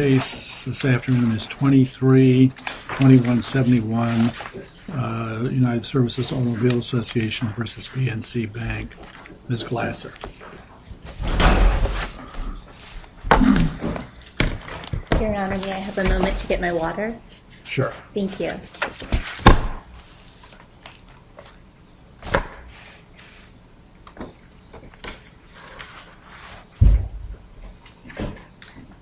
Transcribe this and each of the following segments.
The case this afternoon is 23-2171, United Services Automobile Association v. PNC Bank. Ms. Glasser. Your Honor, may I have a moment to get my water? Sure. Thank you.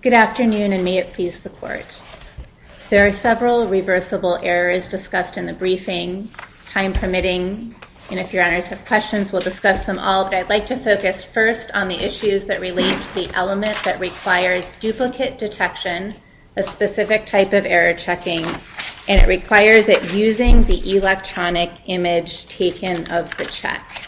Good afternoon, and may it please the Court. There are several reversible errors discussed in the briefing, time permitting, and if your Honors have questions, we'll discuss them all. To get this resolved, I'd like to focus first on the issues that relate to the element that requires duplicate detection, a specific type of error checking, and it requires it using the electronic image taken of the check.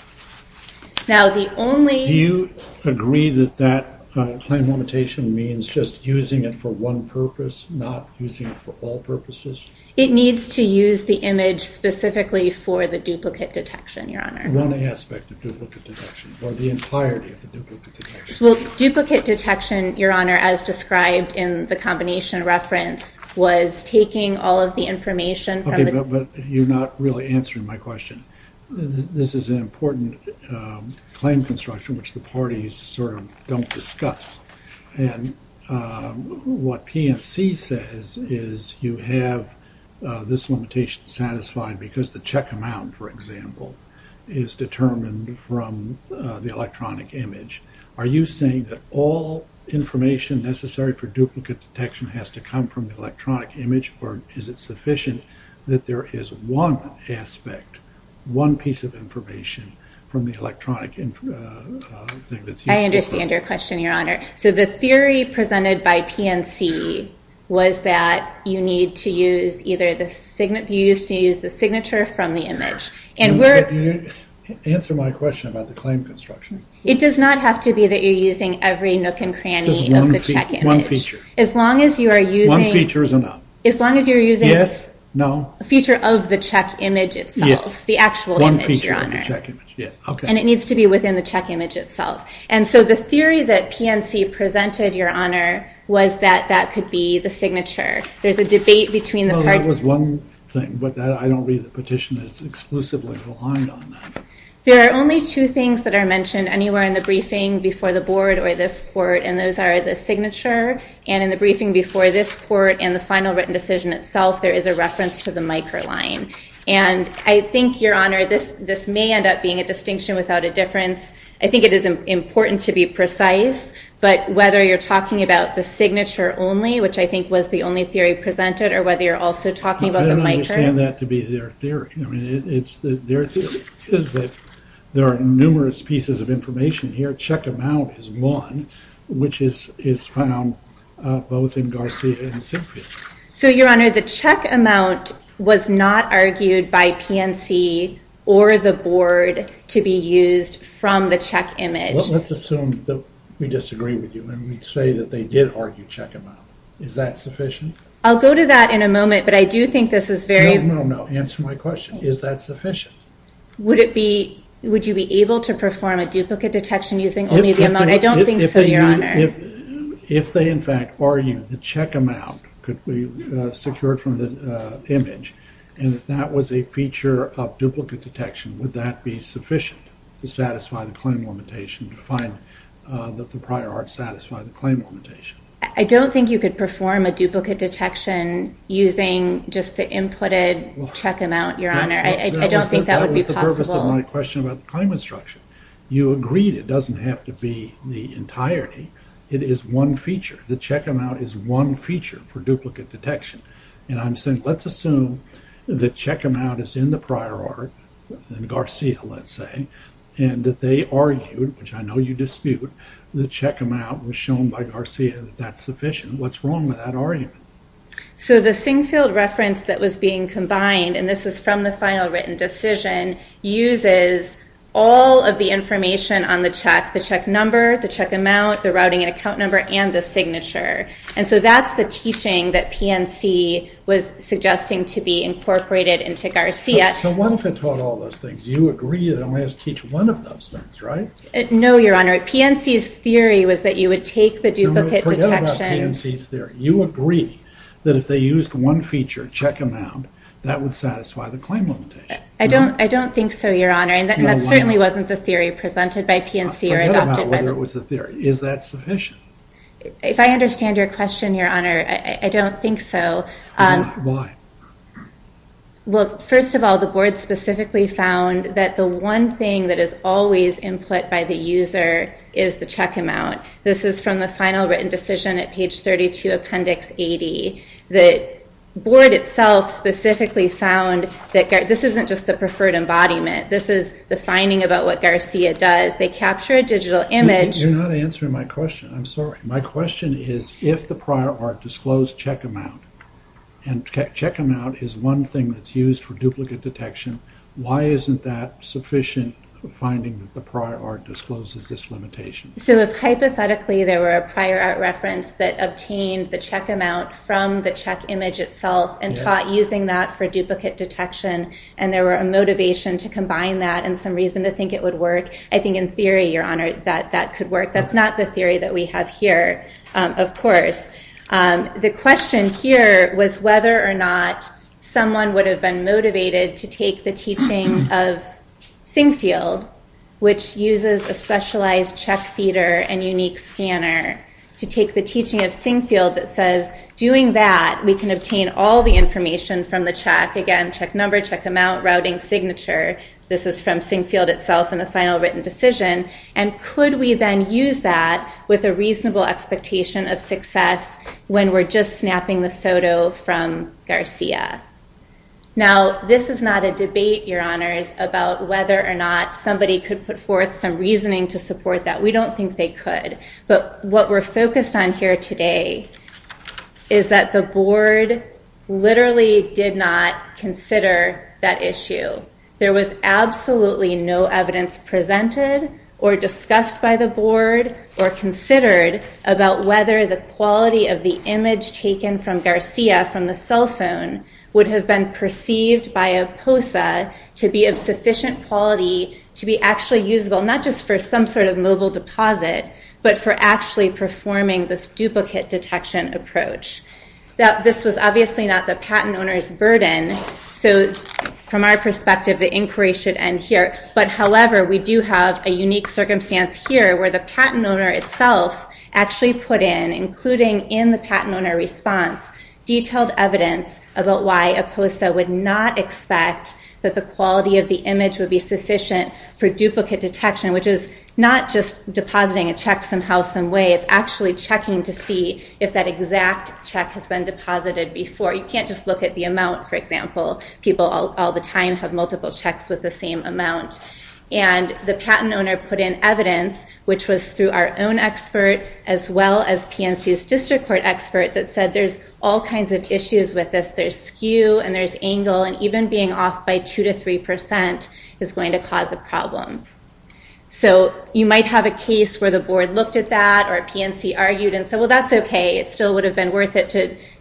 Do you agree that that claim limitation means just using it for one purpose, not using it for all purposes? It needs to use the image specifically for the duplicate detection, Your Honor. One aspect of duplicate detection, or the entirety of the duplicate detection. Well, duplicate detection, Your Honor, as described in the combination reference, was taking all of the information from the- Okay, but you're not really answering my question. This is an important claim construction which the parties sort of don't discuss, and what PNC says is you have this limitation satisfied because the check amount, for example, is determined from the electronic image. Are you saying that all information necessary for duplicate detection has to come from the electronic image, or is it sufficient that there is one aspect, one piece of information from the electronic thing that's used? I understand your question, Your Honor. So the theory presented by PNC was that you need to use either the signature from the image, and we're- Answer my question about the claim construction. It does not have to be that you're using every nook and cranny of the check image. Just one feature. As long as you are using- One feature is enough. As long as you're using- Yes, no. A feature of the check image itself. Yes. The actual image, Your Honor. One feature of the check image, yes, okay. And it needs to be within the check image itself. And so the theory that PNC presented, Your Honor, was that that could be the signature. There's a debate between the parties- No, that was one thing, but I don't read the petition that's exclusively reliant on that. There are only two things that are mentioned anywhere in the briefing before the board or this court, and those are the signature, and in the briefing before this court, and the final written decision itself, there is a reference to the micro line. And I think, Your Honor, this may end up being a distinction without a difference. I think it is important to be precise, but whether you're talking about the signature only, which I think was the only theory presented, or whether you're also talking about the micro- No, I don't understand that to be their theory. Their theory is that there are numerous pieces of information here. Check amount is one, which is found both in Garcia and Sinfield. So, Your Honor, the check amount was not argued by PNC or the board to be used from the check image. Well, let's assume that we disagree with you, and we'd say that they did argue check amount. Is that sufficient? I'll go to that in a moment, but I do think this is very- No, no, no. Answer my question. Is that sufficient? Would you be able to perform a duplicate detection using only the amount? I don't think so, Your Honor. If they, in fact, argued the check amount could be secured from the image, and that that was a feature of duplicate detection, would that be sufficient to satisfy the claim limitation, to find that the prior art satisfied the claim limitation? I don't think you could perform a duplicate detection using just the inputted check amount, Your Honor. I don't think that would be possible. That was the purpose of my question about the claim instruction. You agreed it doesn't have to be the entirety. It is one feature. The check amount is one feature for duplicate detection. And I'm saying, let's assume the check amount is in the prior art, in Garcia, let's say, and that they argued, which I know you dispute, the check amount was shown by Garcia that that's sufficient. What's wrong with that argument? So the Singfield reference that was being combined, and this is from the final written decision, uses all of the information on the check, the check number, the check amount, the routing and account number, and the signature. And so that's the teaching that PNC was suggesting to be incorporated into Garcia. So what if it taught all those things? You agree it only has to teach one of those things, right? No, Your Honor. PNC's theory was that you would take the duplicate detection. Forget about PNC's theory. You agree that if they used one feature, check amount, that would satisfy the claim limitation. I don't think so, Your Honor. No, why not? And that certainly wasn't the theory presented by PNC or adopted by them. Forget about whether it was a theory. Is that sufficient? If I understand your question, Your Honor, I don't think so. Why? Well, first of all, the Board specifically found that the one thing that is always input by the user is the check amount. This is from the final written decision at page 32, appendix 80. The Board itself specifically found that this isn't just the preferred embodiment. This is the finding about what Garcia does. They capture a digital image. You're not answering my question. I'm sorry. My question is, if the prior art disclosed check amount, and check amount is one thing that's used for duplicate detection, why isn't that sufficient finding that the prior art discloses this limitation? So if hypothetically there were a prior art reference that obtained the check amount from the check image itself and taught using that for duplicate detection, and there were a motivation to combine that and some reason to think it would work, I think in theory, Your Honor, that that could work. That's not the theory that we have here, of course. The question here was whether or not someone would have been motivated to take the teaching of Singfield, which uses a specialized check feeder and unique scanner, to take the teaching of Singfield that says, doing that, we can obtain all the information from the check. Again, check number, check amount, routing, signature. This is from Singfield itself in the final written decision. And could we then use that with a reasonable expectation of success when we're just snapping the photo from Garcia? Now, this is not a debate, Your Honors, about whether or not somebody could put forth some reasoning to support that. We don't think they could. But what we're focused on here today is that the board literally did not consider that issue. There was absolutely no evidence presented or discussed by the board or considered about whether the quality of the image taken from Garcia from the cell phone would have been perceived by a POSA to be of sufficient quality to be actually usable, not just for some sort of mobile deposit, but for actually performing this duplicate detection approach. This was obviously not the patent owner's burden. So from our perspective, the inquiry should end here. But however, we do have a unique circumstance here where the patent owner itself actually put in, including in the patent owner response, detailed evidence about why a POSA would not expect that the quality of the image would be sufficient for duplicate detection, which is not just depositing a check somehow, some way. It's actually checking to see if that exact check has been deposited before. You can't just look at the amount, for example. People all the time have multiple checks with the same amount. And the patent owner put in evidence, which was through our own expert as well as PNC's district court expert, that said there's all kinds of issues with this. There's skew and there's angle. And even being off by 2% to 3% is going to cause a problem. So you might have a case where the board looked at that or PNC argued and said, well, that's OK. It still would have been worth it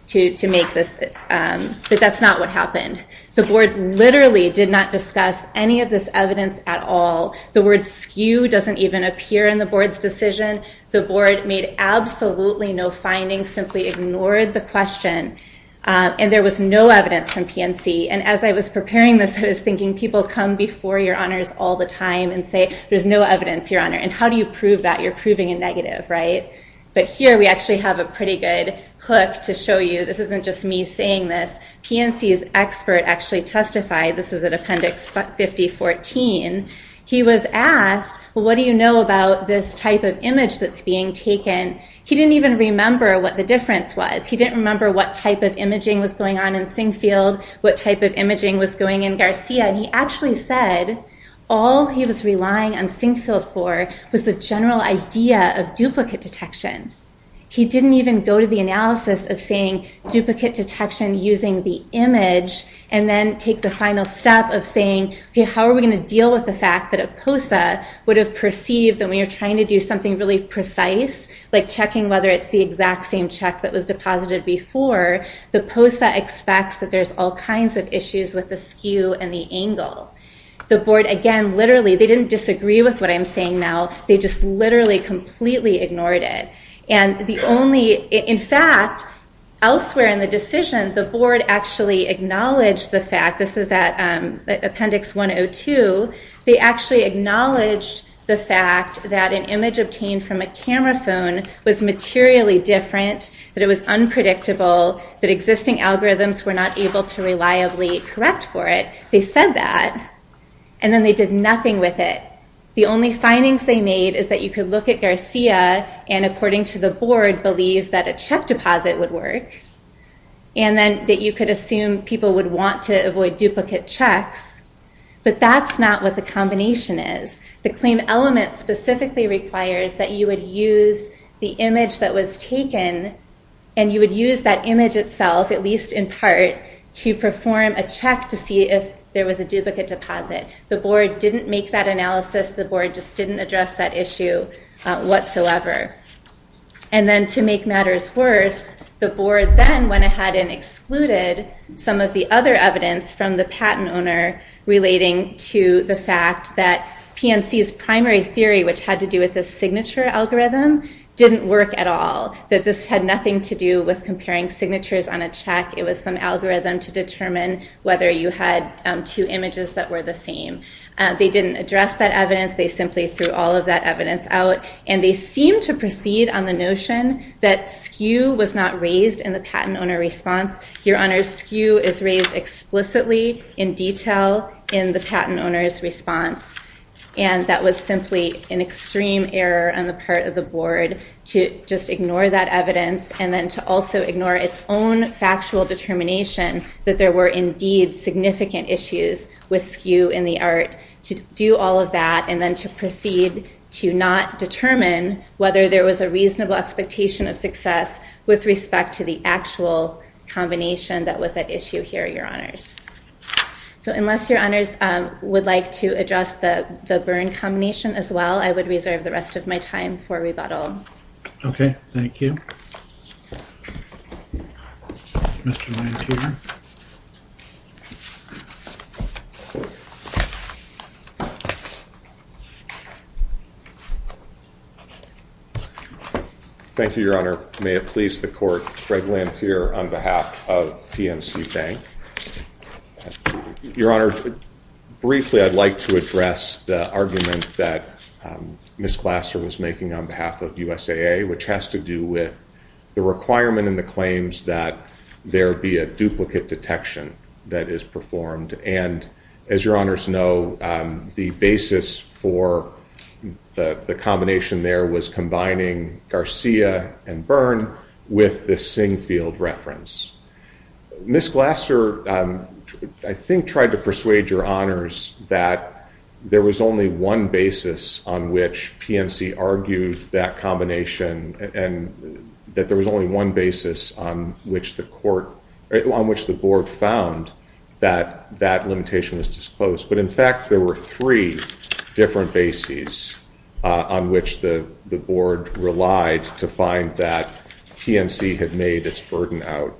to make this. But that's not what happened. The board literally did not discuss any of this evidence at all. The word skew doesn't even appear in the board's decision. The board made absolutely no findings, simply ignored the question. And there was no evidence from PNC. And as I was preparing this, I was thinking people come before your honors all the time and say, there's no evidence, Your Honor. And how do you prove that? You're proving a negative, right? But here we actually have a pretty good hook to show you. This isn't just me saying this. PNC's expert actually testified. This is at Appendix 5014. He was asked, well, what do you know about this type of image that's being taken? He didn't even remember what the difference was. He didn't remember what type of imaging was going on in Singfield, what type of imaging was going in Garcia. And he actually said all he was relying on Singfield for was the general idea of duplicate detection. He didn't even go to the analysis of saying duplicate detection using the image and then take the final step of saying, OK, how are we going to deal with the fact that a POSA would have perceived that when you're trying to do something really precise, like checking whether it's the exact same check that was deposited before, the POSA expects that there's all kinds of issues with the skew and the angle. The board, again, literally, they didn't disagree with what I'm saying now. They just literally completely ignored it. And the only, in fact, elsewhere in the decision, the board actually acknowledged the fact, this is at Appendix 102, they actually acknowledged the fact that an image obtained from a camera phone was materially different, that it was unpredictable, that existing algorithms were not able to reliably correct for it. They said that. And then they did nothing with it. The only findings they made is that you could look at Garcia and, according to the board, believe that a check deposit would work. And then that you could assume people would want to avoid duplicate checks. But that's not what the combination is. The claim element specifically requires that you would use the image that was taken, and you would use that image itself, at least in part, to perform a check to see if there was a duplicate deposit. The board didn't make that analysis. The board just didn't address that issue whatsoever. And then to make matters worse, the board then went ahead and excluded some of the other evidence from the patent owner relating to the fact that PNC's primary theory, which had to do with the signature algorithm, didn't work at all. That this had nothing to do with comparing signatures on a check. It was some algorithm to determine whether you had two images that were the same. They didn't address that evidence. They simply threw all of that evidence out. And they seemed to proceed on the notion that skew was not raised in the patent owner response. Your Honor, skew is raised explicitly in detail in the patent owner's response. And that was simply an extreme error on the part of the board to just ignore that evidence and then to also ignore its own factual determination that there were indeed significant issues with skew in the art. To do all of that and then to proceed to not determine whether there was a reasonable expectation of success with respect to the actual combination that was at issue here, Your Honors. So unless Your Honors would like to address the burn combination as well, I would reserve the rest of my time for rebuttal. Okay. Thank you. Mr. Lanthier. Thank you, Your Honor. May it please the court, Greg Lanthier on behalf of PNC Bank. Your Honor, briefly I'd like to address the argument that Ms. Glasser was making on behalf of USAA, which has to do with the requirement in the claims that there be a duplicate detection that is performed. And as Your Honors know, the basis for the combination there was combining Garcia and burn with the Singfield reference. Ms. Glasser, I think, tried to persuade Your Honors that there was only one basis on which PNC argued that combination and that there was only one basis on which the board found that that limitation was disclosed. But in fact, there were three different bases on which the board relied to find that PNC had made its burden out.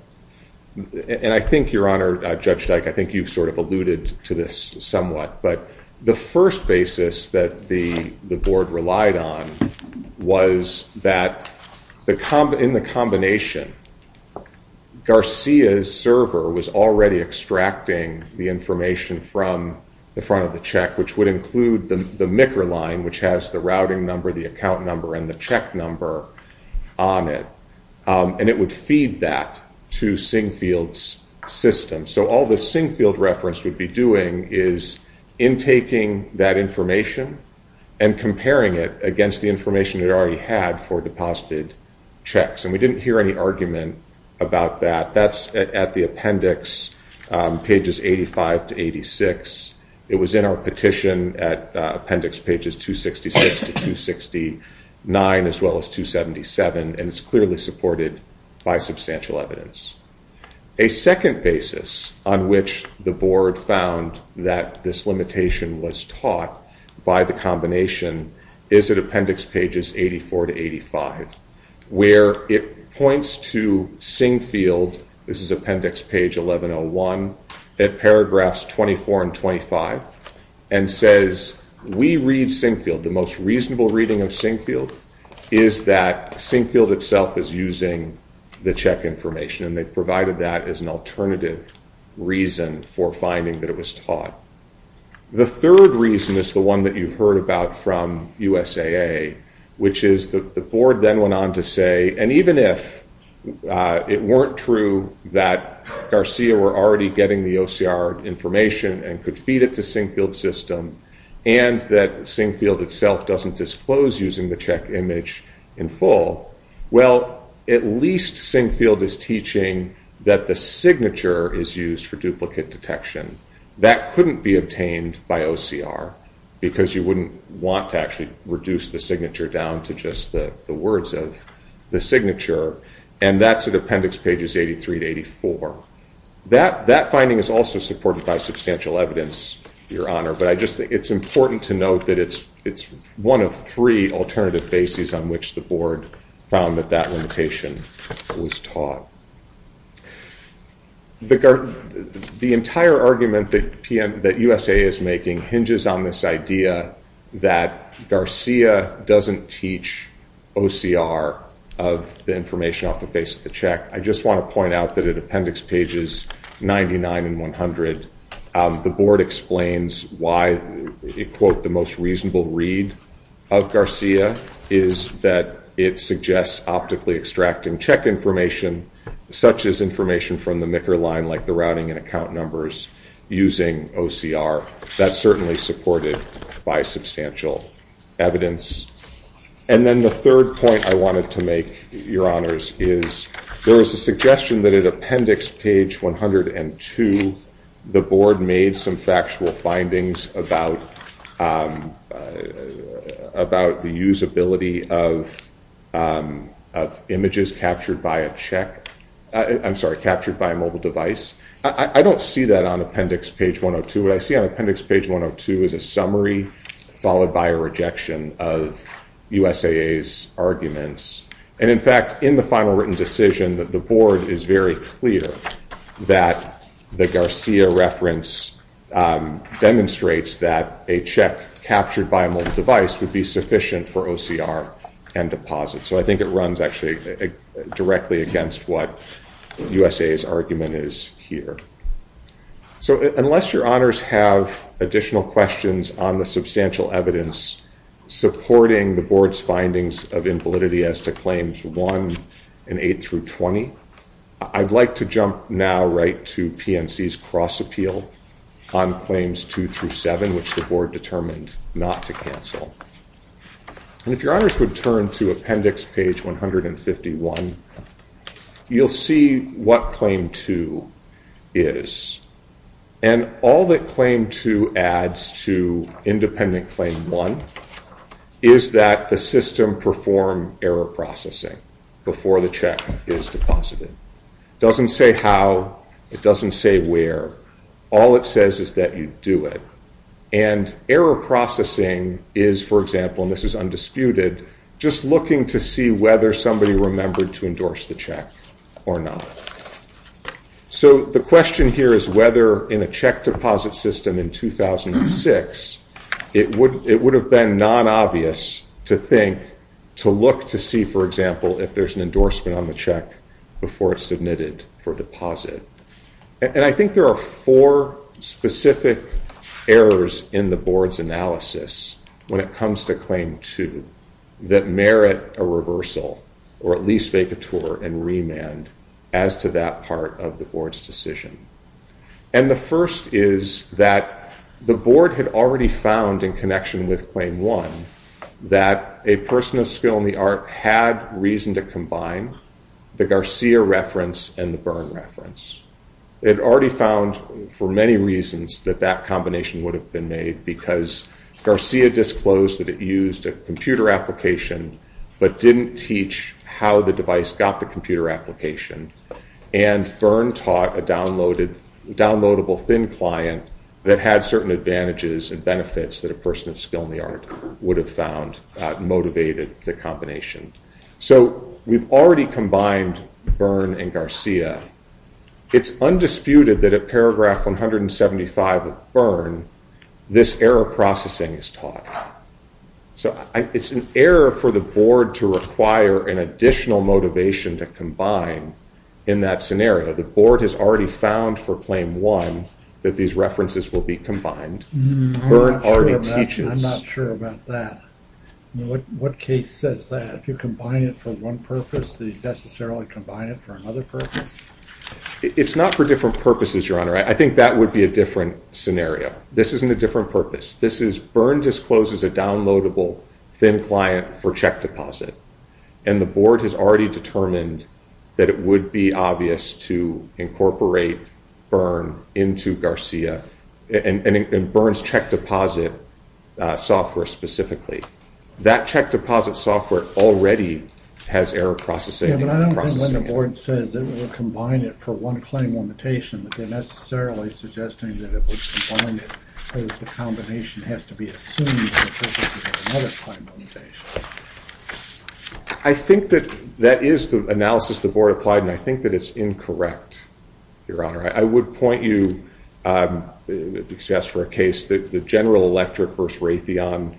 And I think, Your Honor, Judge Dyke, I think you've sort of alluded to this somewhat. But the first basis that the board relied on was that in the combination, Garcia's server was already extracting the information from the front of the check, which would include the MICR line, which has the routing number, the account number, and the check number on it. And it would feed that to Singfield's system. So all the Singfield reference would be doing is intaking that information and comparing it against the information it already had for deposited checks. And we didn't hear any argument about that. That's at the appendix, pages 85 to 86. It was in our petition at appendix pages 266 to 269, as well as 277. And it's clearly supported by substantial evidence. A second basis on which the board found that this limitation was taught by the combination is at appendix pages 84 to 85, where it points to Singfield. This is appendix page 1101 at paragraphs 24 and 25, and says, We read Singfield. The most reasonable reading of Singfield is that Singfield itself is using the check information, and they provided that as an alternative reason for finding that it was taught. The third reason is the one that you heard about from USAA, which is the board then went on to say, and even if it weren't true that Garcia were already getting the OCR information and could feed it to Singfield's system, and that Singfield itself doesn't disclose using the check image in full, well, at least Singfield is teaching that the signature is used for duplicate detection. That couldn't be obtained by OCR, because you wouldn't want to actually reduce the signature down to just the words of the signature, and that's at appendix pages 83 to 84. That finding is also supported by substantial evidence, Your Honor, but I just think it's important to note that it's one of three alternative bases on which the board found that that limitation was taught. The entire argument that USAA is making hinges on this idea that Garcia doesn't teach OCR of the information off the face of the check. I just want to point out that at appendix pages 99 and 100, the board explains why, quote, the most reasonable read of Garcia is that it suggests optically extracting check information, such as information from the MICR line like the routing and account numbers using OCR. That's certainly supported by substantial evidence. And then the third point I wanted to make, Your Honors, is there was a suggestion that at appendix page 102, the board made some factual findings about the usability of images captured by a check. I'm sorry, captured by a mobile device. I don't see that on appendix page 102. What I see on appendix page 102 is a summary followed by a rejection of USAA's arguments. And in fact, in the final written decision that the board is very clear that the Garcia reference demonstrates that a check captured by a mobile device would be sufficient for OCR and deposit. So I think it runs actually directly against what USAA's argument is here. So unless Your Honors have additional questions on the substantial evidence supporting the board's findings of invalidity as to claims 1 and 8 through 20, I'd like to jump now right to PNC's cross appeal on claims 2 through 7, which the board determined not to cancel. And if Your Honors would turn to appendix page 151, you'll see what claim 2 is. And all that claim 2 adds to independent claim 1 is that the system performed error processing before the check is deposited. It doesn't say how. It doesn't say where. All it says is that you do it. And error processing is, for example, and this is undisputed, just looking to see whether somebody remembered to endorse the check or not. So the question here is whether in a check deposit system in 2006, it would have been non-obvious to think, to look to see, for example, if there's an endorsement on the check before it's submitted for deposit. And I think there are four specific errors in the board's analysis when it comes to claim 2 that merit a reversal, or at least vacatur and remand as to that part of the board's decision. And the first is that the board had already found in connection with claim 1 that a person of skill in the art had reason to combine the Garcia reference and the Byrne reference. It already found for many reasons that that combination would have been made because Garcia disclosed that it used a computer application but didn't teach how the device got the computer application. And Byrne taught a downloadable thin client that had certain advantages and benefits that a person of skill in the art would have found motivated the combination. So we've already combined Byrne and Garcia. It's undisputed that at paragraph 175 of Byrne, this error processing is taught. So it's an error for the board to require an additional motivation to combine in that scenario. The board has already found for claim 1 that these references will be combined. Byrne already teaches. I'm not sure about that. What case says that? If you combine it for one purpose, do you necessarily combine it for another purpose? It's not for different purposes, Your Honor. I think that would be a different scenario. This isn't a different purpose. Byrne discloses a downloadable thin client for check deposit. And the board has already determined that it would be obvious to incorporate Byrne into Garcia and Byrne's check deposit software specifically. That check deposit software already has error processing. But I don't think when the board says it will combine it for one claim limitation, that they're necessarily suggesting that it would combine it because the combination has to be assumed for another claim limitation. I think that that is the analysis the board applied, and I think that it's incorrect, Your Honor. I would point you, if you ask for a case, the General Electric versus Raytheon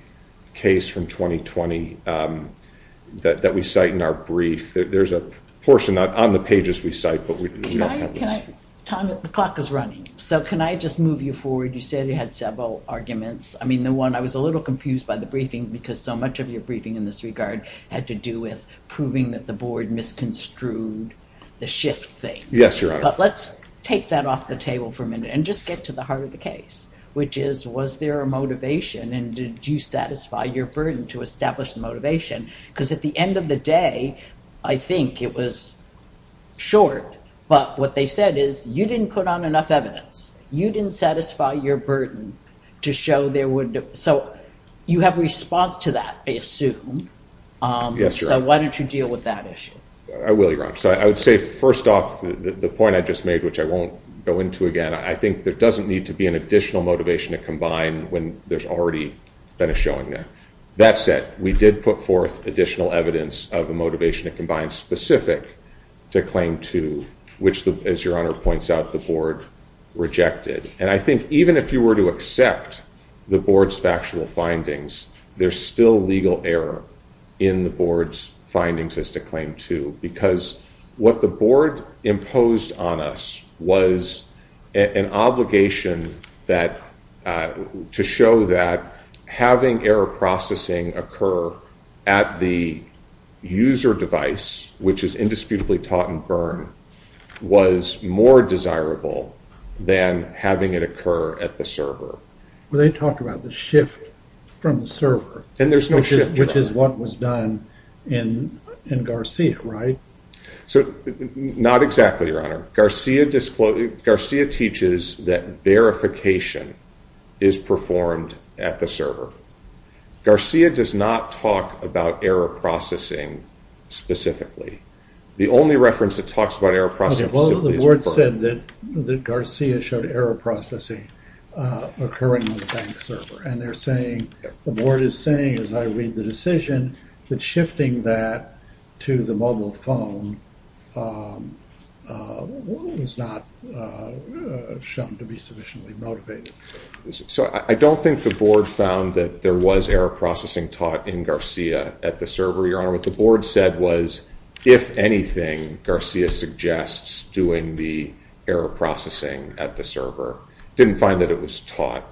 case from 2020 that we cite in our brief. There's a portion on the pages we cite, but we don't have this. Tom, the clock is running. So can I just move you forward? You said you had several arguments. I mean, the one I was a little confused by the briefing because so much of your briefing in this regard had to do with proving that the board misconstrued the shift thing. Yes, Your Honor. But let's take that off the table for a minute and just get to the heart of the case, which is, was there a motivation, and did you satisfy your burden to establish the motivation? Because at the end of the day, I think it was short. But what they said is, you didn't put on enough evidence. You didn't satisfy your burden to show there would – so you have a response to that, I assume. Yes, Your Honor. So why don't you deal with that issue? I will, Your Honor. So I would say, first off, the point I just made, which I won't go into again, I think there doesn't need to be an additional motivation to combine when there's already been a showing there. That said, we did put forth additional evidence of a motivation to combine specific to Claim 2, which, as Your Honor points out, the board rejected. And I think even if you were to accept the board's factual findings, there's still legal error in the board's findings as to Claim 2 because what the board imposed on us was an obligation to show that having error processing occur at the user device, which is indisputably taught in Byrne, was more desirable than having it occur at the server. Well, they talked about the shift from the server. And there's no shift. Which is what was done in Garcia, right? Not exactly, Your Honor. Garcia teaches that verification is performed at the server. Garcia does not talk about error processing specifically. The only reference that talks about error processing specifically is Byrne. The board said that Garcia showed error processing occurring on the bank server. And they're saying, the board is saying, as I read the decision, that shifting that to the mobile phone was not shown to be sufficiently motivated. So I don't think the board found that there was error processing taught in Garcia at the server, Your Honor. What the board said was, if anything, Garcia suggests doing the error processing at the server. Didn't find that it was taught.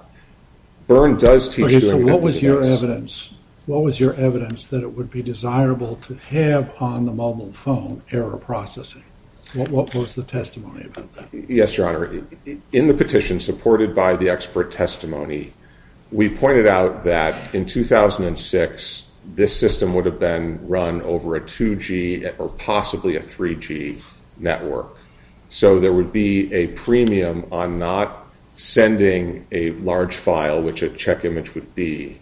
Byrne does teach doing it at the device. So what was your evidence? What was your evidence that it would be desirable to have on the mobile phone error processing? What was the testimony about that? Yes, Your Honor. In the petition supported by the expert testimony, we pointed out that in 2006, this system would have been run over a 2G or possibly a 3G network. So there would be a premium on not sending a large file, which a check image would be,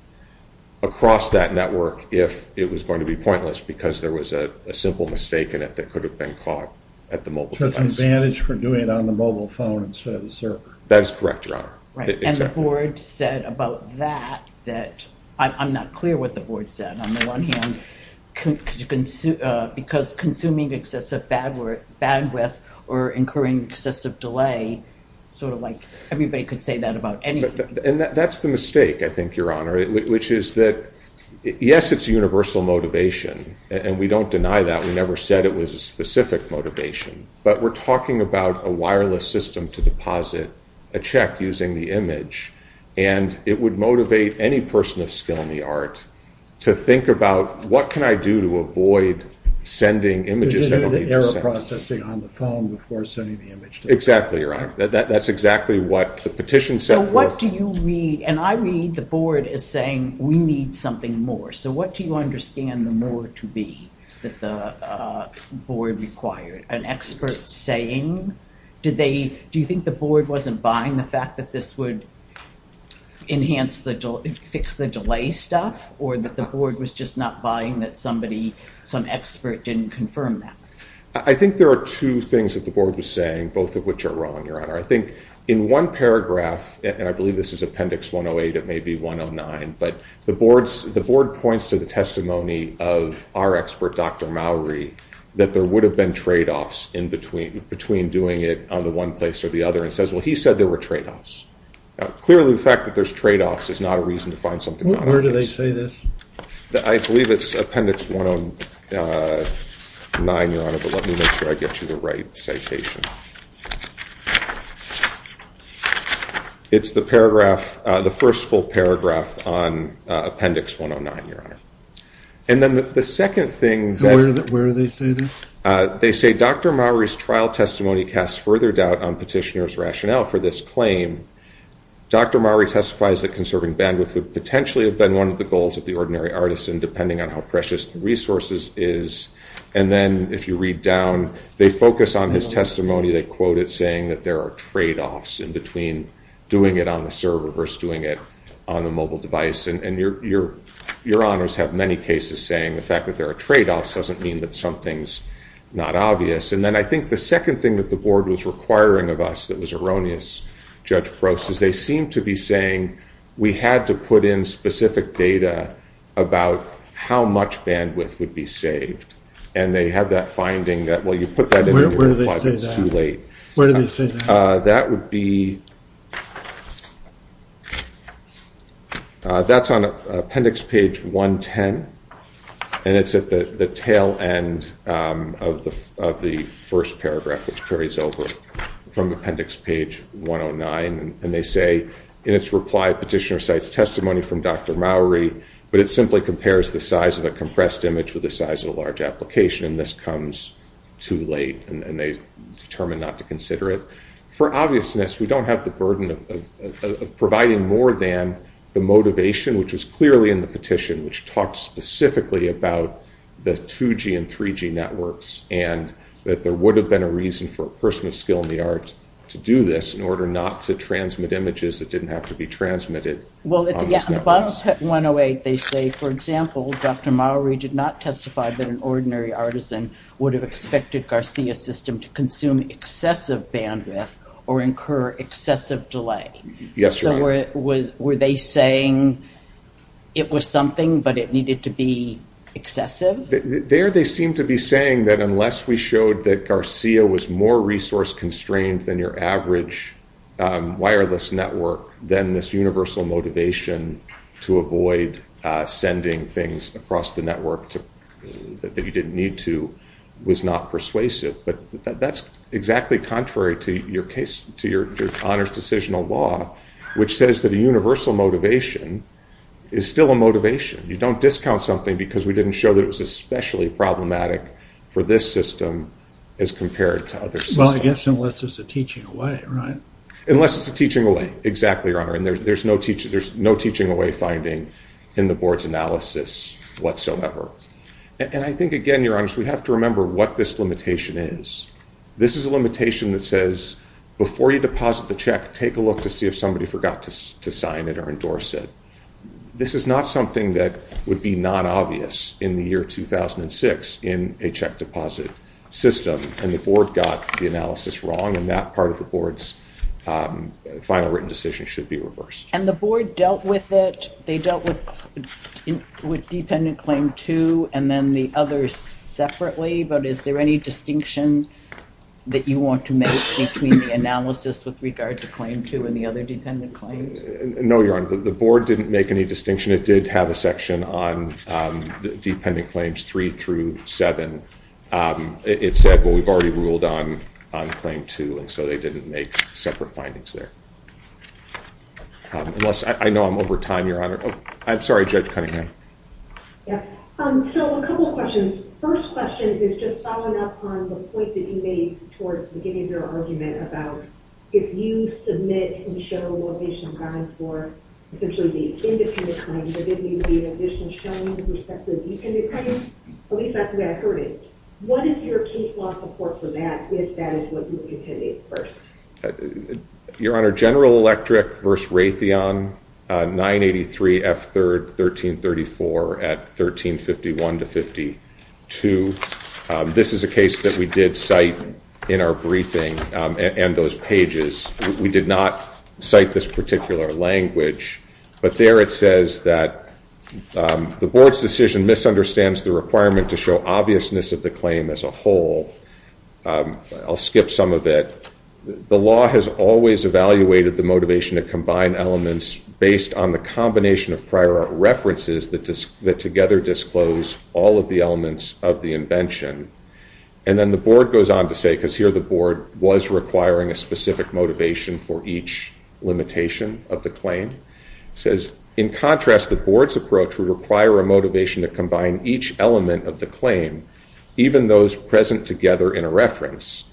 across that network if it was going to be pointless. Because there was a simple mistake in it that could have been caught at the mobile device. There was an advantage for doing it on the mobile phone instead of the server. That is correct, Your Honor. And the board said about that, that I'm not clear what the board said on the one hand. Because consuming excessive bandwidth or incurring excessive delay, sort of like, everybody could say that about anything. And that's the mistake, I think, Your Honor, which is that, yes, it's a universal motivation, and we don't deny that. We never said it was a specific motivation. But we're talking about a wireless system to deposit a check using the image. And it would motivate any person of skill in the art to think about, what can I do to avoid sending images that don't need to send? You need error processing on the phone before sending the image. Exactly, Your Honor. That's exactly what the petition said. So what do you read? And I read the board as saying, we need something more. So what do you understand the more to be that the board required? An expert saying? Do you think the board wasn't buying the fact that this would fix the delay stuff? Or that the board was just not buying that some expert didn't confirm that? I think there are two things that the board was saying, both of which are wrong, Your Honor. I think in one paragraph, and I believe this is Appendix 108, it may be 109, but the board points to the testimony of our expert, Dr. Mowry, that there would have been tradeoffs in between doing it on the one place or the other, and says, well, he said there were tradeoffs. Clearly, the fact that there's tradeoffs is not a reason to find something not on the appendix. Where do they say this? I believe it's Appendix 109, Your Honor. But let me make sure I get you the right citation. It's the first full paragraph on Appendix 109, Your Honor. And then the second thing that they say, Dr. Mowry's trial testimony casts further doubt on petitioner's rationale for this claim. Dr. Mowry testifies that conserving bandwidth would potentially have been one of the goals of the ordinary artisan, depending on how precious the resources is. And then if you read down, they focus on his testimony. They quote it, saying that there are tradeoffs in between doing it on the server versus doing it on a mobile device. And Your Honors have many cases saying the fact that there are tradeoffs doesn't mean that something's not obvious. And then I think the second thing that the board was requiring of us that was erroneous, Judge Prost, is they seem to be saying we had to put in specific data about how much bandwidth would be saved. And they have that finding that, well, you put that in your reply, but it's too late. Where do they say that? That would be, that's on Appendix Page 110. And it's at the tail end of the first paragraph, which carries over from Appendix Page 109. And they say, in its reply, Petitioner cites testimony from Dr. Mowry, but it simply compares the size of a compressed image with the size of a large application, and this comes too late, and they determine not to consider it. For obviousness, we don't have the burden of providing more than the motivation, which was clearly in the petition, which talked specifically about the 2G and 3G networks, and that there would have been a reason for a person of skill in the art to do this in order not to transmit images that didn't have to be transmitted on those networks. Well, at the bottom of Pet 108, they say, for example, Dr. Mowry did not testify that an ordinary artisan would have expected Garcia's system to consume excessive bandwidth or incur excessive delay. Yes, Your Honor. So were they saying it was something, but it needed to be excessive? There they seem to be saying that unless we showed that Garcia was more resource-constrained than your average wireless network, then this universal motivation to avoid sending things across the network that you didn't need to was not persuasive. But that's exactly contrary to your Honor's decisional law, which says that a universal motivation is still a motivation. You don't discount something because we didn't show that it was especially problematic for this system as compared to other systems. Well, I guess unless it's a teaching away, right? Unless it's a teaching away, exactly, Your Honor. And there's no teaching away finding in the Board's analysis whatsoever. And I think, again, Your Honor, we have to remember what this limitation is. This is a limitation that says, before you deposit the check, take a look to see if somebody forgot to sign it or endorse it. This is not something that would be non-obvious in the year 2006 in a check deposit system. And the Board got the analysis wrong, and that part of the Board's final written decision should be reversed. And the Board dealt with it. They dealt with dependent claim two and then the others separately. But is there any distinction that you want to make between the analysis with regard to claim two and the other dependent claims? No, Your Honor, the Board didn't make any distinction. It did have a section on dependent claims three through seven. It said, well, we've already ruled on claim two, and so they didn't make separate findings there. Unless I know I'm over time, Your Honor. I'm sorry, Judge Cunningham. Yes. So a couple of questions. First question is just following up on the point that you made towards the beginning of your argument about if you submit and show what they should have gone for, essentially the independent claims, there didn't need to be an additional showing with respect to the dependent claims. At least that's the way I heard it. What is your case law support for that, if that is what you intended first? Your Honor, General Electric v. Raytheon, 983 F. 3rd, 1334 at 1351 to 52. This is a case that we did cite in our briefing and those pages. We did not cite this particular language. But there it says that the Board's decision misunderstands the requirement to show obviousness of the claim as a whole. I'll skip some of it. The law has always evaluated the motivation to combine elements based on the combination of prior references that together disclose all of the elements of the invention. And then the Board goes on to say, because here the Board was requiring a specific motivation for each limitation of the claim. It says, in contrast, the Board's approach would require a motivation to combine each element of the claim, even those present together in a reference.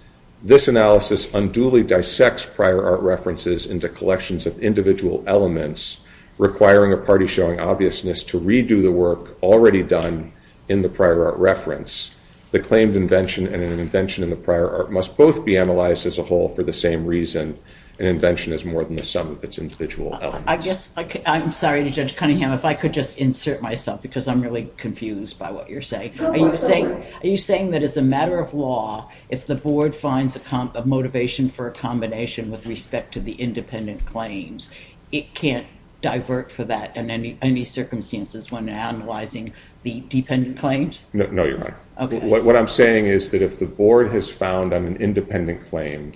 This analysis unduly dissects prior art references into collections of individual elements, requiring a party showing obviousness to redo the work already done in the prior art reference. The claimed invention and an invention in the prior art must both be analyzed as a whole for the same reason. An invention is more than the sum of its individual elements. I'm sorry, Judge Cunningham, if I could just insert myself, because I'm really confused by what you're saying. Are you saying that as a matter of law, if the Board finds a motivation for a combination with respect to the independent claims, it can't divert for that in any circumstances when analyzing the dependent claims? No, Your Honor. Okay. What I'm saying is that if the Board has found on an independent claim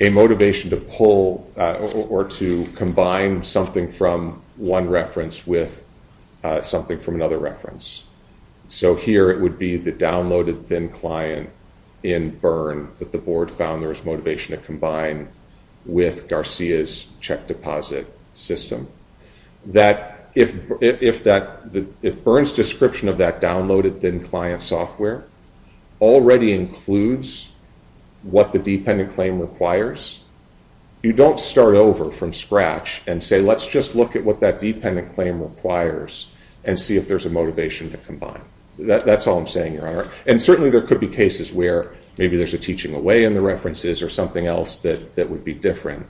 a motivation to pull or to combine something from one reference with something from another reference, so here it would be the downloaded thin client in Bern that the Board found there was motivation to combine with Garcia's check deposit system, that if Bern's description of that downloaded thin client software already includes what the dependent claim requires, you don't start over from scratch and say, let's just look at what that dependent claim requires and see if there's a motivation to combine. That's all I'm saying, Your Honor. And certainly there could be cases where maybe there's a teaching away in the references or something else that would be different,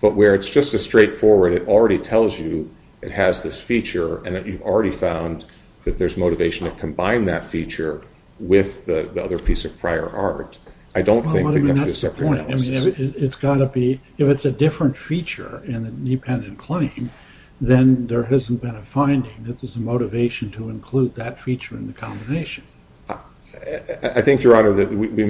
but where it's just as straightforward, it already tells you it has this feature and that you've already found that there's motivation to combine that feature with the other piece of prior art, I don't think you have to do a separate analysis. I mean, it's got to be, if it's a different feature in the dependent claim, then there hasn't been a finding that there's a motivation to include that feature in the combination. I think, Your Honor, that we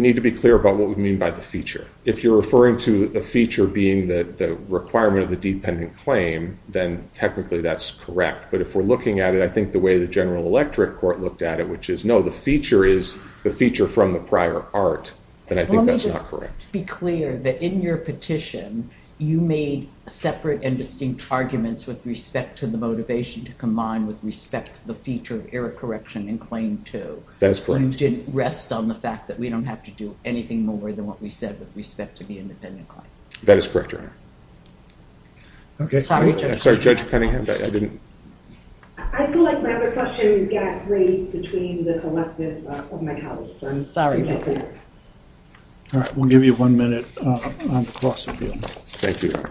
need to be clear about what we mean by the feature. If you're referring to the feature being the requirement of the dependent claim, then technically that's correct, but if we're looking at it, I think the way the General Electric Court looked at it, which is, no, the feature is the feature from the prior art, then I think that's not correct. To be clear, that in your petition, you made separate and distinct arguments with respect to the motivation to combine with respect to the feature of error correction in Claim 2. That is correct. You didn't rest on the fact that we don't have to do anything more than what we said with respect to the independent claim. That is correct, Your Honor. Sorry, Judge Penningham, but I didn't... I feel like my other question got raised between the collective of my house, so I'm sorry about that. All right, we'll give you one minute on the cross appeal. Thank you, Your Honor.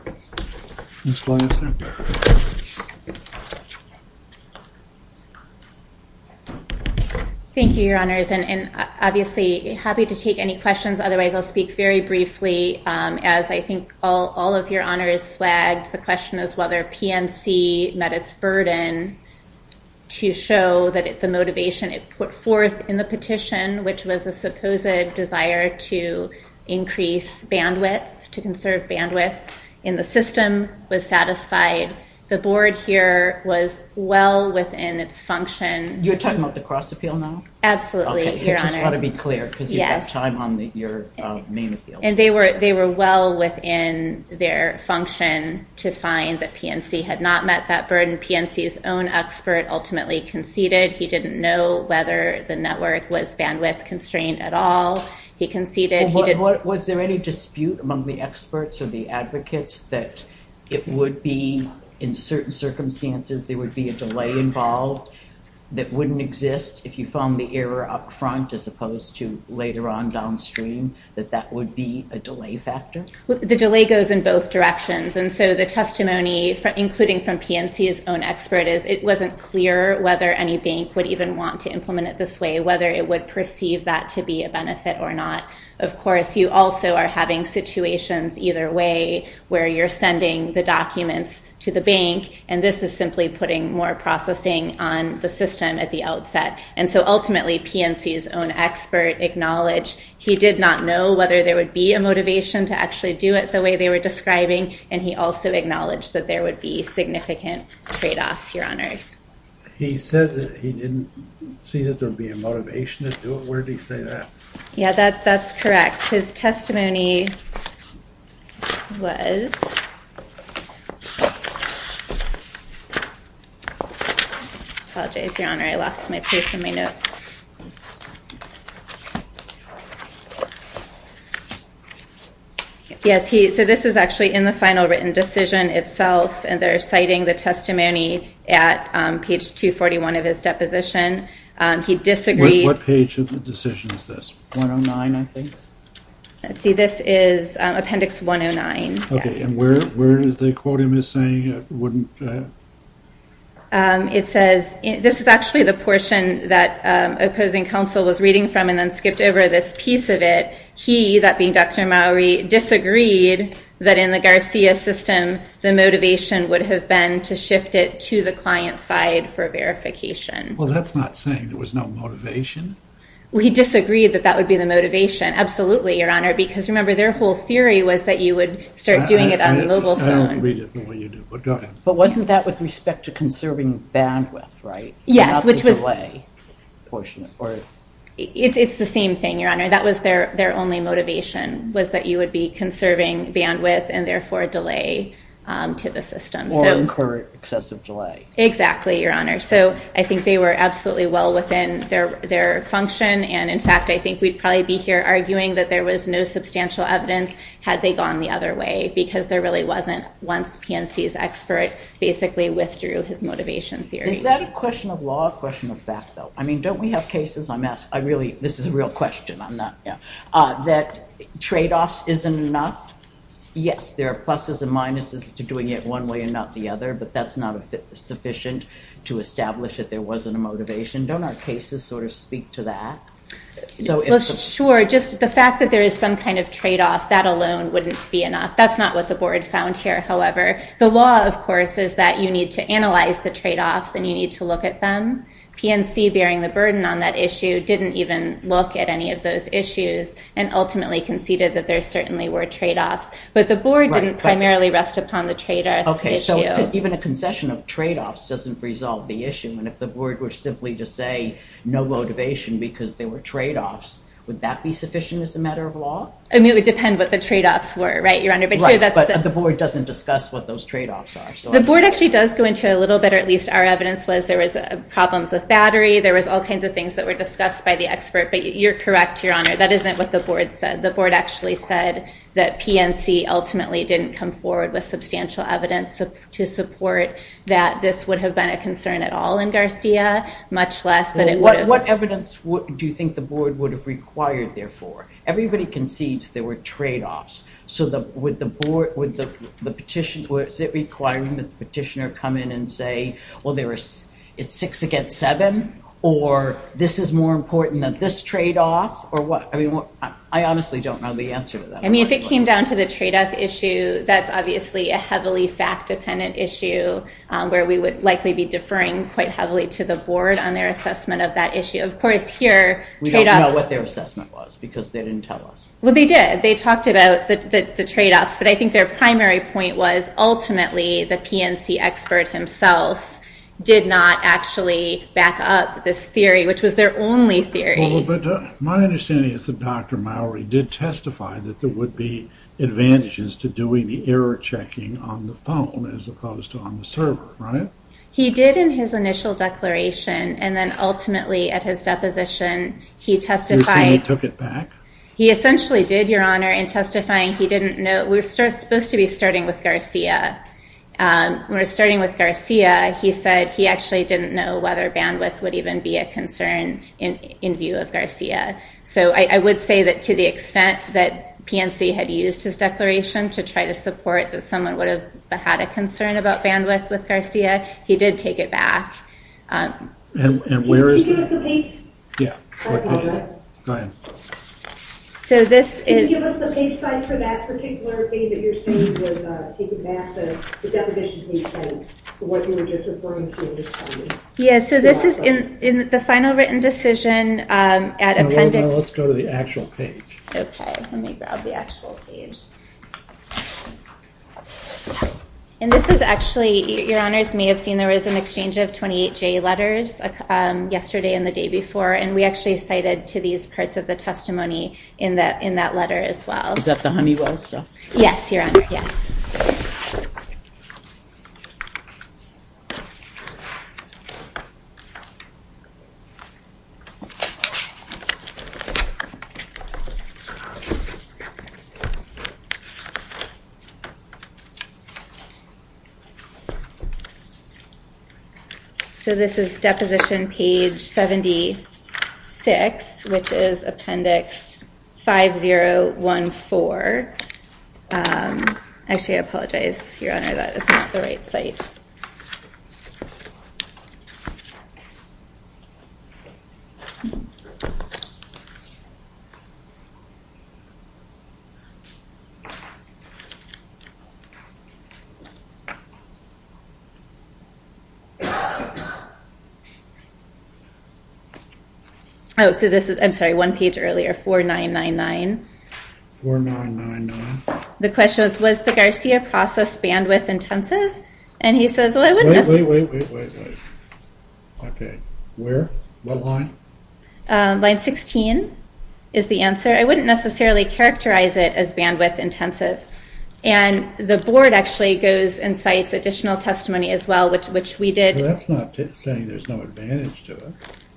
Thank you, Your Honors, and obviously happy to take any questions. Otherwise, I'll speak very briefly. As I think all of Your Honors flagged, the question is whether PNC met its burden to show that the motivation it put forth in the petition, which was a supposed desire to increase bandwidth, to conserve bandwidth in the system, was satisfied. The board here was well within its function. You're talking about the cross appeal now? Absolutely, Your Honor. Okay, I just want to be clear, because you have time on your main appeal. And they were well within their function to find that PNC had not met that burden. PNC's own expert ultimately conceded he didn't know whether the network was bandwidth-constrained at all. He conceded he didn't... Was there any dispute among the experts or the advocates that it would be, in certain circumstances, there would be a delay involved that wouldn't exist if you found the error up front as opposed to later on downstream, that that would be a delay factor? The delay goes in both directions. And so the testimony, including from PNC's own expert, is it wasn't clear whether any bank would even want to implement it this way, whether it would perceive that to be a benefit or not. Of course, you also are having situations either way where you're sending the documents to the bank, and this is simply putting more processing on the system at the outset. And so ultimately, PNC's own expert acknowledged he did not know whether there would be a motivation to actually do it the way they were describing, and he also acknowledged that there would be significant tradeoffs, Your Honors. He said that he didn't see that there would be a motivation to do it. Where did he say that? Yeah, that's correct. His testimony was, I apologize, Your Honor, I lost my pace in my notes. Yes, so this is actually in the final written decision itself, and they're citing the testimony at page 241 of his deposition. He disagreed. What page of the decision is this? 109, I think. Let's see. This is Appendix 109, yes. Okay, and where is the quote he was saying it wouldn't? It says, this is actually the portion that opposing counsel was reading from and then skipped over this piece of it. He, that being Dr. Mowrey, disagreed that in the Garcia system, the motivation would have been to shift it to the client side for verification. Well, that's not saying there was no motivation. Well, he disagreed that that would be the motivation. Absolutely, Your Honor, because remember, their whole theory was that you would start doing it on the mobile phone. I don't read it the way you do, but go ahead. But wasn't that with respect to conserving bandwidth, right? Yes, which was- Not the delay portion. It's the same thing, Your Honor. That was their only motivation, was that you would be conserving bandwidth and therefore delay to the system. Or incur excessive delay. Exactly, Your Honor. So I think they were absolutely well within their function. And in fact, I think we'd probably be here arguing that there was no substantial evidence had they gone the other way, because there really wasn't once PNC's expert basically withdrew his motivation theory. Is that a question of law or a question of fact, though? I mean, don't we have cases, I'm asking, I really, this is a real question, I'm not, that tradeoffs isn't enough? Yes, there are pluses and minuses to doing it one way and not the other, but that's not sufficient to establish that there wasn't a motivation. Don't our cases sort of speak to that? Sure, just the fact that there is some kind of tradeoff, that alone wouldn't be enough. That's not what the Board found here, however. The law, of course, is that you need to analyze the tradeoffs and you need to look at them. PNC, bearing the burden on that issue, didn't even look at any of those issues and ultimately conceded that there certainly were tradeoffs, but the Board didn't primarily rest upon the tradeoffs issue. Okay, so even a concession of tradeoffs doesn't resolve the issue, and if the Board were simply to say no motivation because there were tradeoffs, would that be sufficient as a matter of law? I mean, it would depend what the tradeoffs were, right, Your Honor? Right, but the Board doesn't discuss what those tradeoffs are. The Board actually does go into it a little bit, or at least our evidence was there was problems with battery, there was all kinds of things that were discussed by the expert, but you're correct, Your Honor, that isn't what the Board said. The Board actually said that PNC ultimately didn't come forward with substantial evidence to support that this would have been a concern at all in Garcia, much less that it would have. What evidence do you think the Board would have required, therefore? Everybody concedes there were tradeoffs, so would the petitioner come in and say, well, it's six against seven, or this is more important than this tradeoff, or what? I mean, I honestly don't know the answer to that. I mean, if it came down to the tradeoff issue, that's obviously a heavily fact-dependent issue where we would likely be deferring quite heavily to the Board on their assessment of that issue. Of course, here, tradeoffs— We don't know what their assessment was because they didn't tell us. Well, they did. They talked about the tradeoffs, but I think their primary point was ultimately the PNC expert himself did not actually back up this theory, which was their only theory. Well, but my understanding is that Dr. Mowrey did testify that there would be advantages to doing the error checking on the phone as opposed to on the server, right? He did in his initial declaration, and then ultimately at his deposition, he testified— You're saying he took it back? He essentially did, Your Honor, in testifying. He didn't know—we were supposed to be starting with Garcia. When we were starting with Garcia, he said he actually didn't know whether bandwidth would even be a concern in view of Garcia. So I would say that to the extent that PNC had used his declaration to try to support that someone would have had a concern about bandwidth with Garcia, he did take it back. And where is the— Can you give us the page? Yeah. Go ahead. So this is— Can you give us the page size for that particular thing that you're saying was taking back the deposition from what you were just referring to? Yeah, so this is in the final written decision at appendix— Let's go to the actual page. Okay, let me grab the actual page. And this is actually—Your Honors may have seen there was an exchange of 28J letters yesterday and the day before, and we actually cited to these parts of the testimony in that letter as well. Is that the Honeywell stuff? Yes, Your Honor, yes. Okay. Okay, I apologize, Your Honor, that is not the right site. Oh, so this is—I'm sorry, one page earlier, 4999. 4999. The question was, was the Garcia process bandwidth-intensive? And he says, well, I wouldn't necessarily— Wait, wait, wait, wait, wait. Okay, where? What line? Line 16 is the answer. I wouldn't necessarily characterize it as bandwidth-intensive. And the board actually goes and cites additional testimony as well, which we did— Well, that's not saying there's no advantage to it.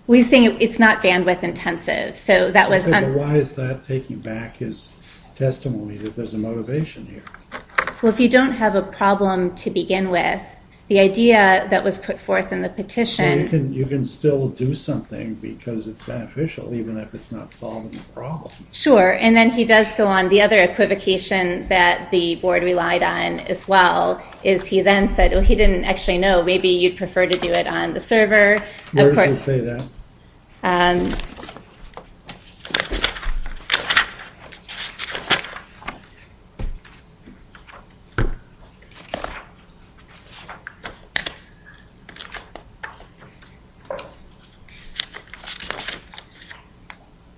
We're saying it's not bandwidth-intensive, so that was— So why is that taking back his testimony, that there's a motivation here? Well, if you don't have a problem to begin with, the idea that was put forth in the petition— So you can still do something because it's beneficial, even if it's not solving the problem. Sure, and then he does go on. The other equivocation that the board relied on as well is he then said, well, he didn't actually know, maybe you'd prefer to do it on the server. Where does he say that?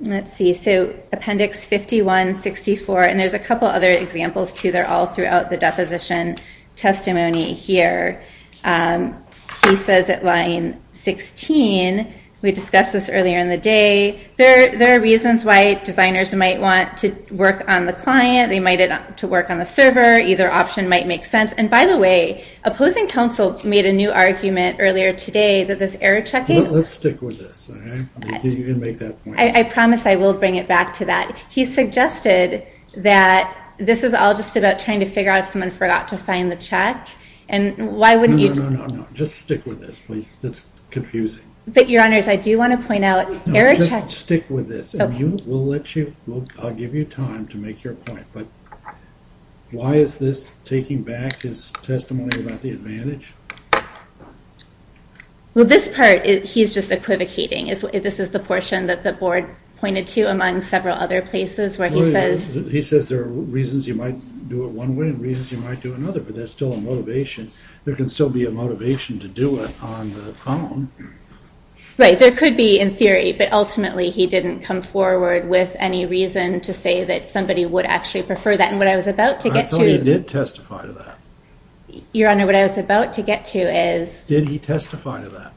Let's see. So Appendix 51-64, and there's a couple other examples, too. They're all throughout the deposition testimony here. He says at line 16, we discussed this earlier in the day, there are reasons why designers might want to work on the client. They might want to work on the server. Either option might make sense. And by the way, opposing counsel made a new argument earlier today that this error checking— Let's stick with this, all right? You can make that point. I promise I will bring it back to that. He suggested that this is all just about trying to figure out if someone forgot to sign the check, and why wouldn't you— No, no, no, no, no. Just stick with this, please. It's confusing. But, Your Honors, I do want to point out— No, just stick with this, and we'll let you—I'll give you time to make your point. But why is this taking back his testimony about the advantage? Well, this part, he's just equivocating. This is the portion that the board pointed to among several other places where he says— He says there are reasons you might do it one way and reasons you might do another, but there's still a motivation. There's no motivation to do it on the phone. Right. There could be in theory, but ultimately he didn't come forward with any reason to say that somebody would actually prefer that. And what I was about to get to— I thought he did testify to that. Your Honor, what I was about to get to is— Did he testify to that?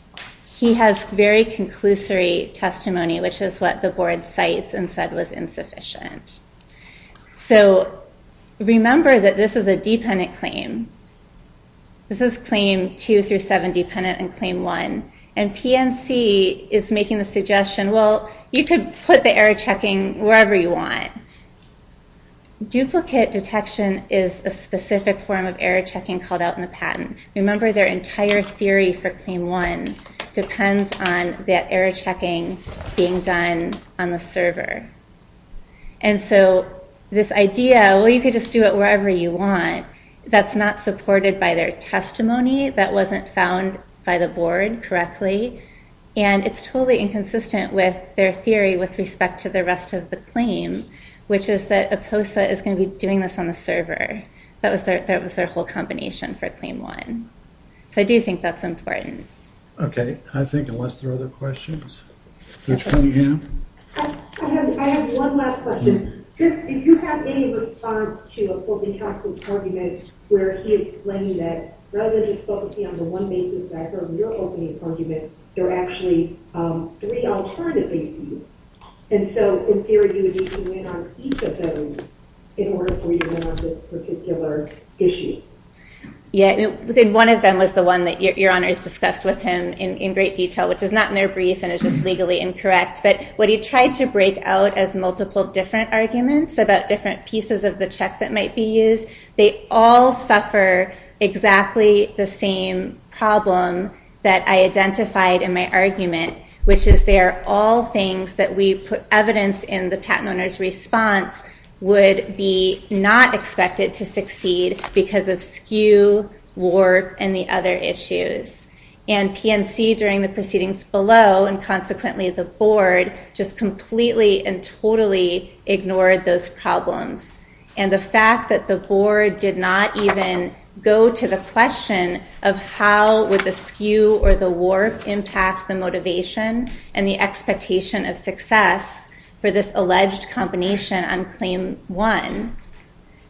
He has very conclusory testimony, which is what the board cites and said was insufficient. So remember that this is a dependent claim. This is Claim 2 through 7 dependent and Claim 1. And PNC is making the suggestion, well, you could put the error checking wherever you want. Duplicate detection is a specific form of error checking called out in the patent. Remember their entire theory for Claim 1 depends on that error checking being done on the server. And so this idea, well, you could just do it wherever you want, that's not supported by their testimony. That wasn't found by the board correctly. And it's totally inconsistent with their theory with respect to the rest of the claim, which is that IPOSA is going to be doing this on the server. That was their whole combination for Claim 1. So I do think that's important. Okay. I think unless there are other questions. Judge Cunningham? I have one last question. Did you have any response to a Court of Counsel's argument where he explained that rather than just focusing on the one basis that occurred in your opening argument, there are actually three alternative bases. And so in theory you would need to win on each of those in order for you to win on this particular issue. Yeah. One of them was the one that Your Honor has discussed with him in great detail, which is not in their brief and is just legally incorrect. But what he tried to break out as multiple different arguments about different pieces of the check that might be used, they all suffer exactly the same problem that I identified in my argument, which is they are all things that we put evidence in the patent owner's response would be not expected to succeed because of skew, warp, and the other issues. And PNC during the proceedings below, and consequently the Board, just completely and totally ignored those problems. And the fact that the Board did not even go to the question of how would the skew or the warp impact the motivation and the expectation of success for this alleged combination on Claim 1,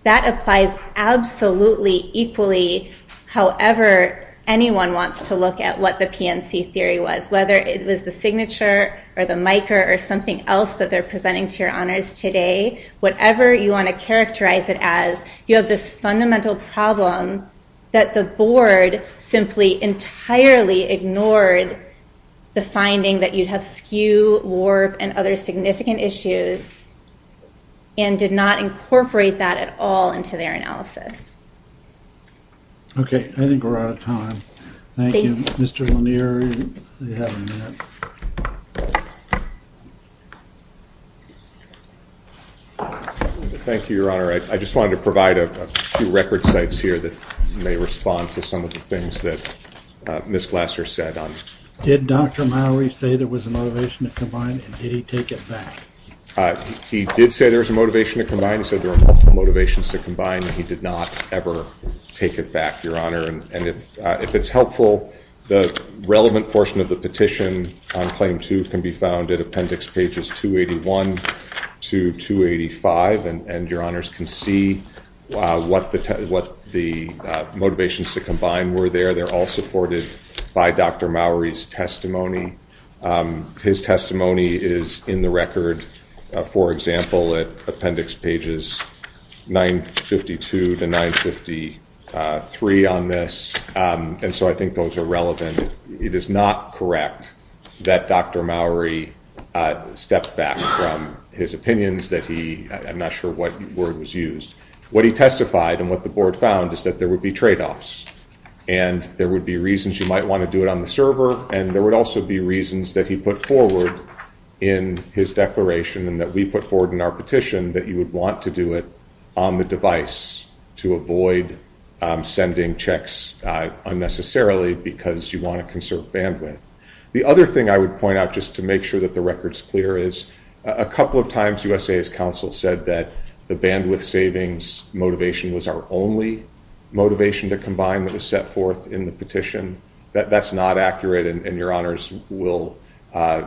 that applies absolutely equally however anyone wants to look at what the PNC theory was, whether it was the signature or the miker or something else that they're presenting to Your Honors today, whatever you want to characterize it as, you have this fundamental problem that the Board simply entirely ignored the finding that you'd have skew, warp, and other significant issues and did not incorporate that at all into their analysis. Okay. I think we're out of time. Thank you. Mr. Lanier, you have a minute. Thank you, Your Honor. I just wanted to provide a few record sites here that may respond to some of the things that Ms. Glasser said. Did Dr. Mowrey say there was a motivation to combine, and did he take it back? He did say there was a motivation to combine. He said there were multiple motivations to combine, and he did not ever take it back, Your Honor. And if it's helpful, the relevant portion of the petition on Claim 2 can be found at appendix pages 281 to 285, and Your Honors can see what the motivations to combine were there. They're all supported by Dr. Mowrey's testimony. His testimony is in the record, for example, at appendix pages 952 to 953 on this, and so I think those are relevant. It is not correct that Dr. Mowrey stepped back from his opinions that he – I'm not sure what word was used. What he testified and what the Board found is that there would be tradeoffs, and there would be reasons you might want to do it on the server, and there would also be reasons that he put forward in his declaration and that we put forward in our petition that you would want to do it on the device to avoid sending checks unnecessarily because you want to conserve bandwidth. The other thing I would point out, just to make sure that the record is clear, is a couple of times USA's counsel said that the bandwidth savings motivation was our only motivation to combine that was set forth in the petition. That's not accurate, and Your Honors will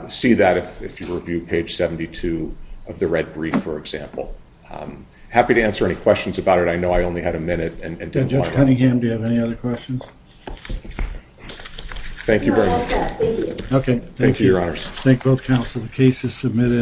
see that if you review page 72 of the red brief, for example. Happy to answer any questions about it. I know I only had a minute. Judge Cunningham, do you have any other questions? Thank you very much. Okay. Thank you, Your Honors. Thank both counsel. The case is submitted.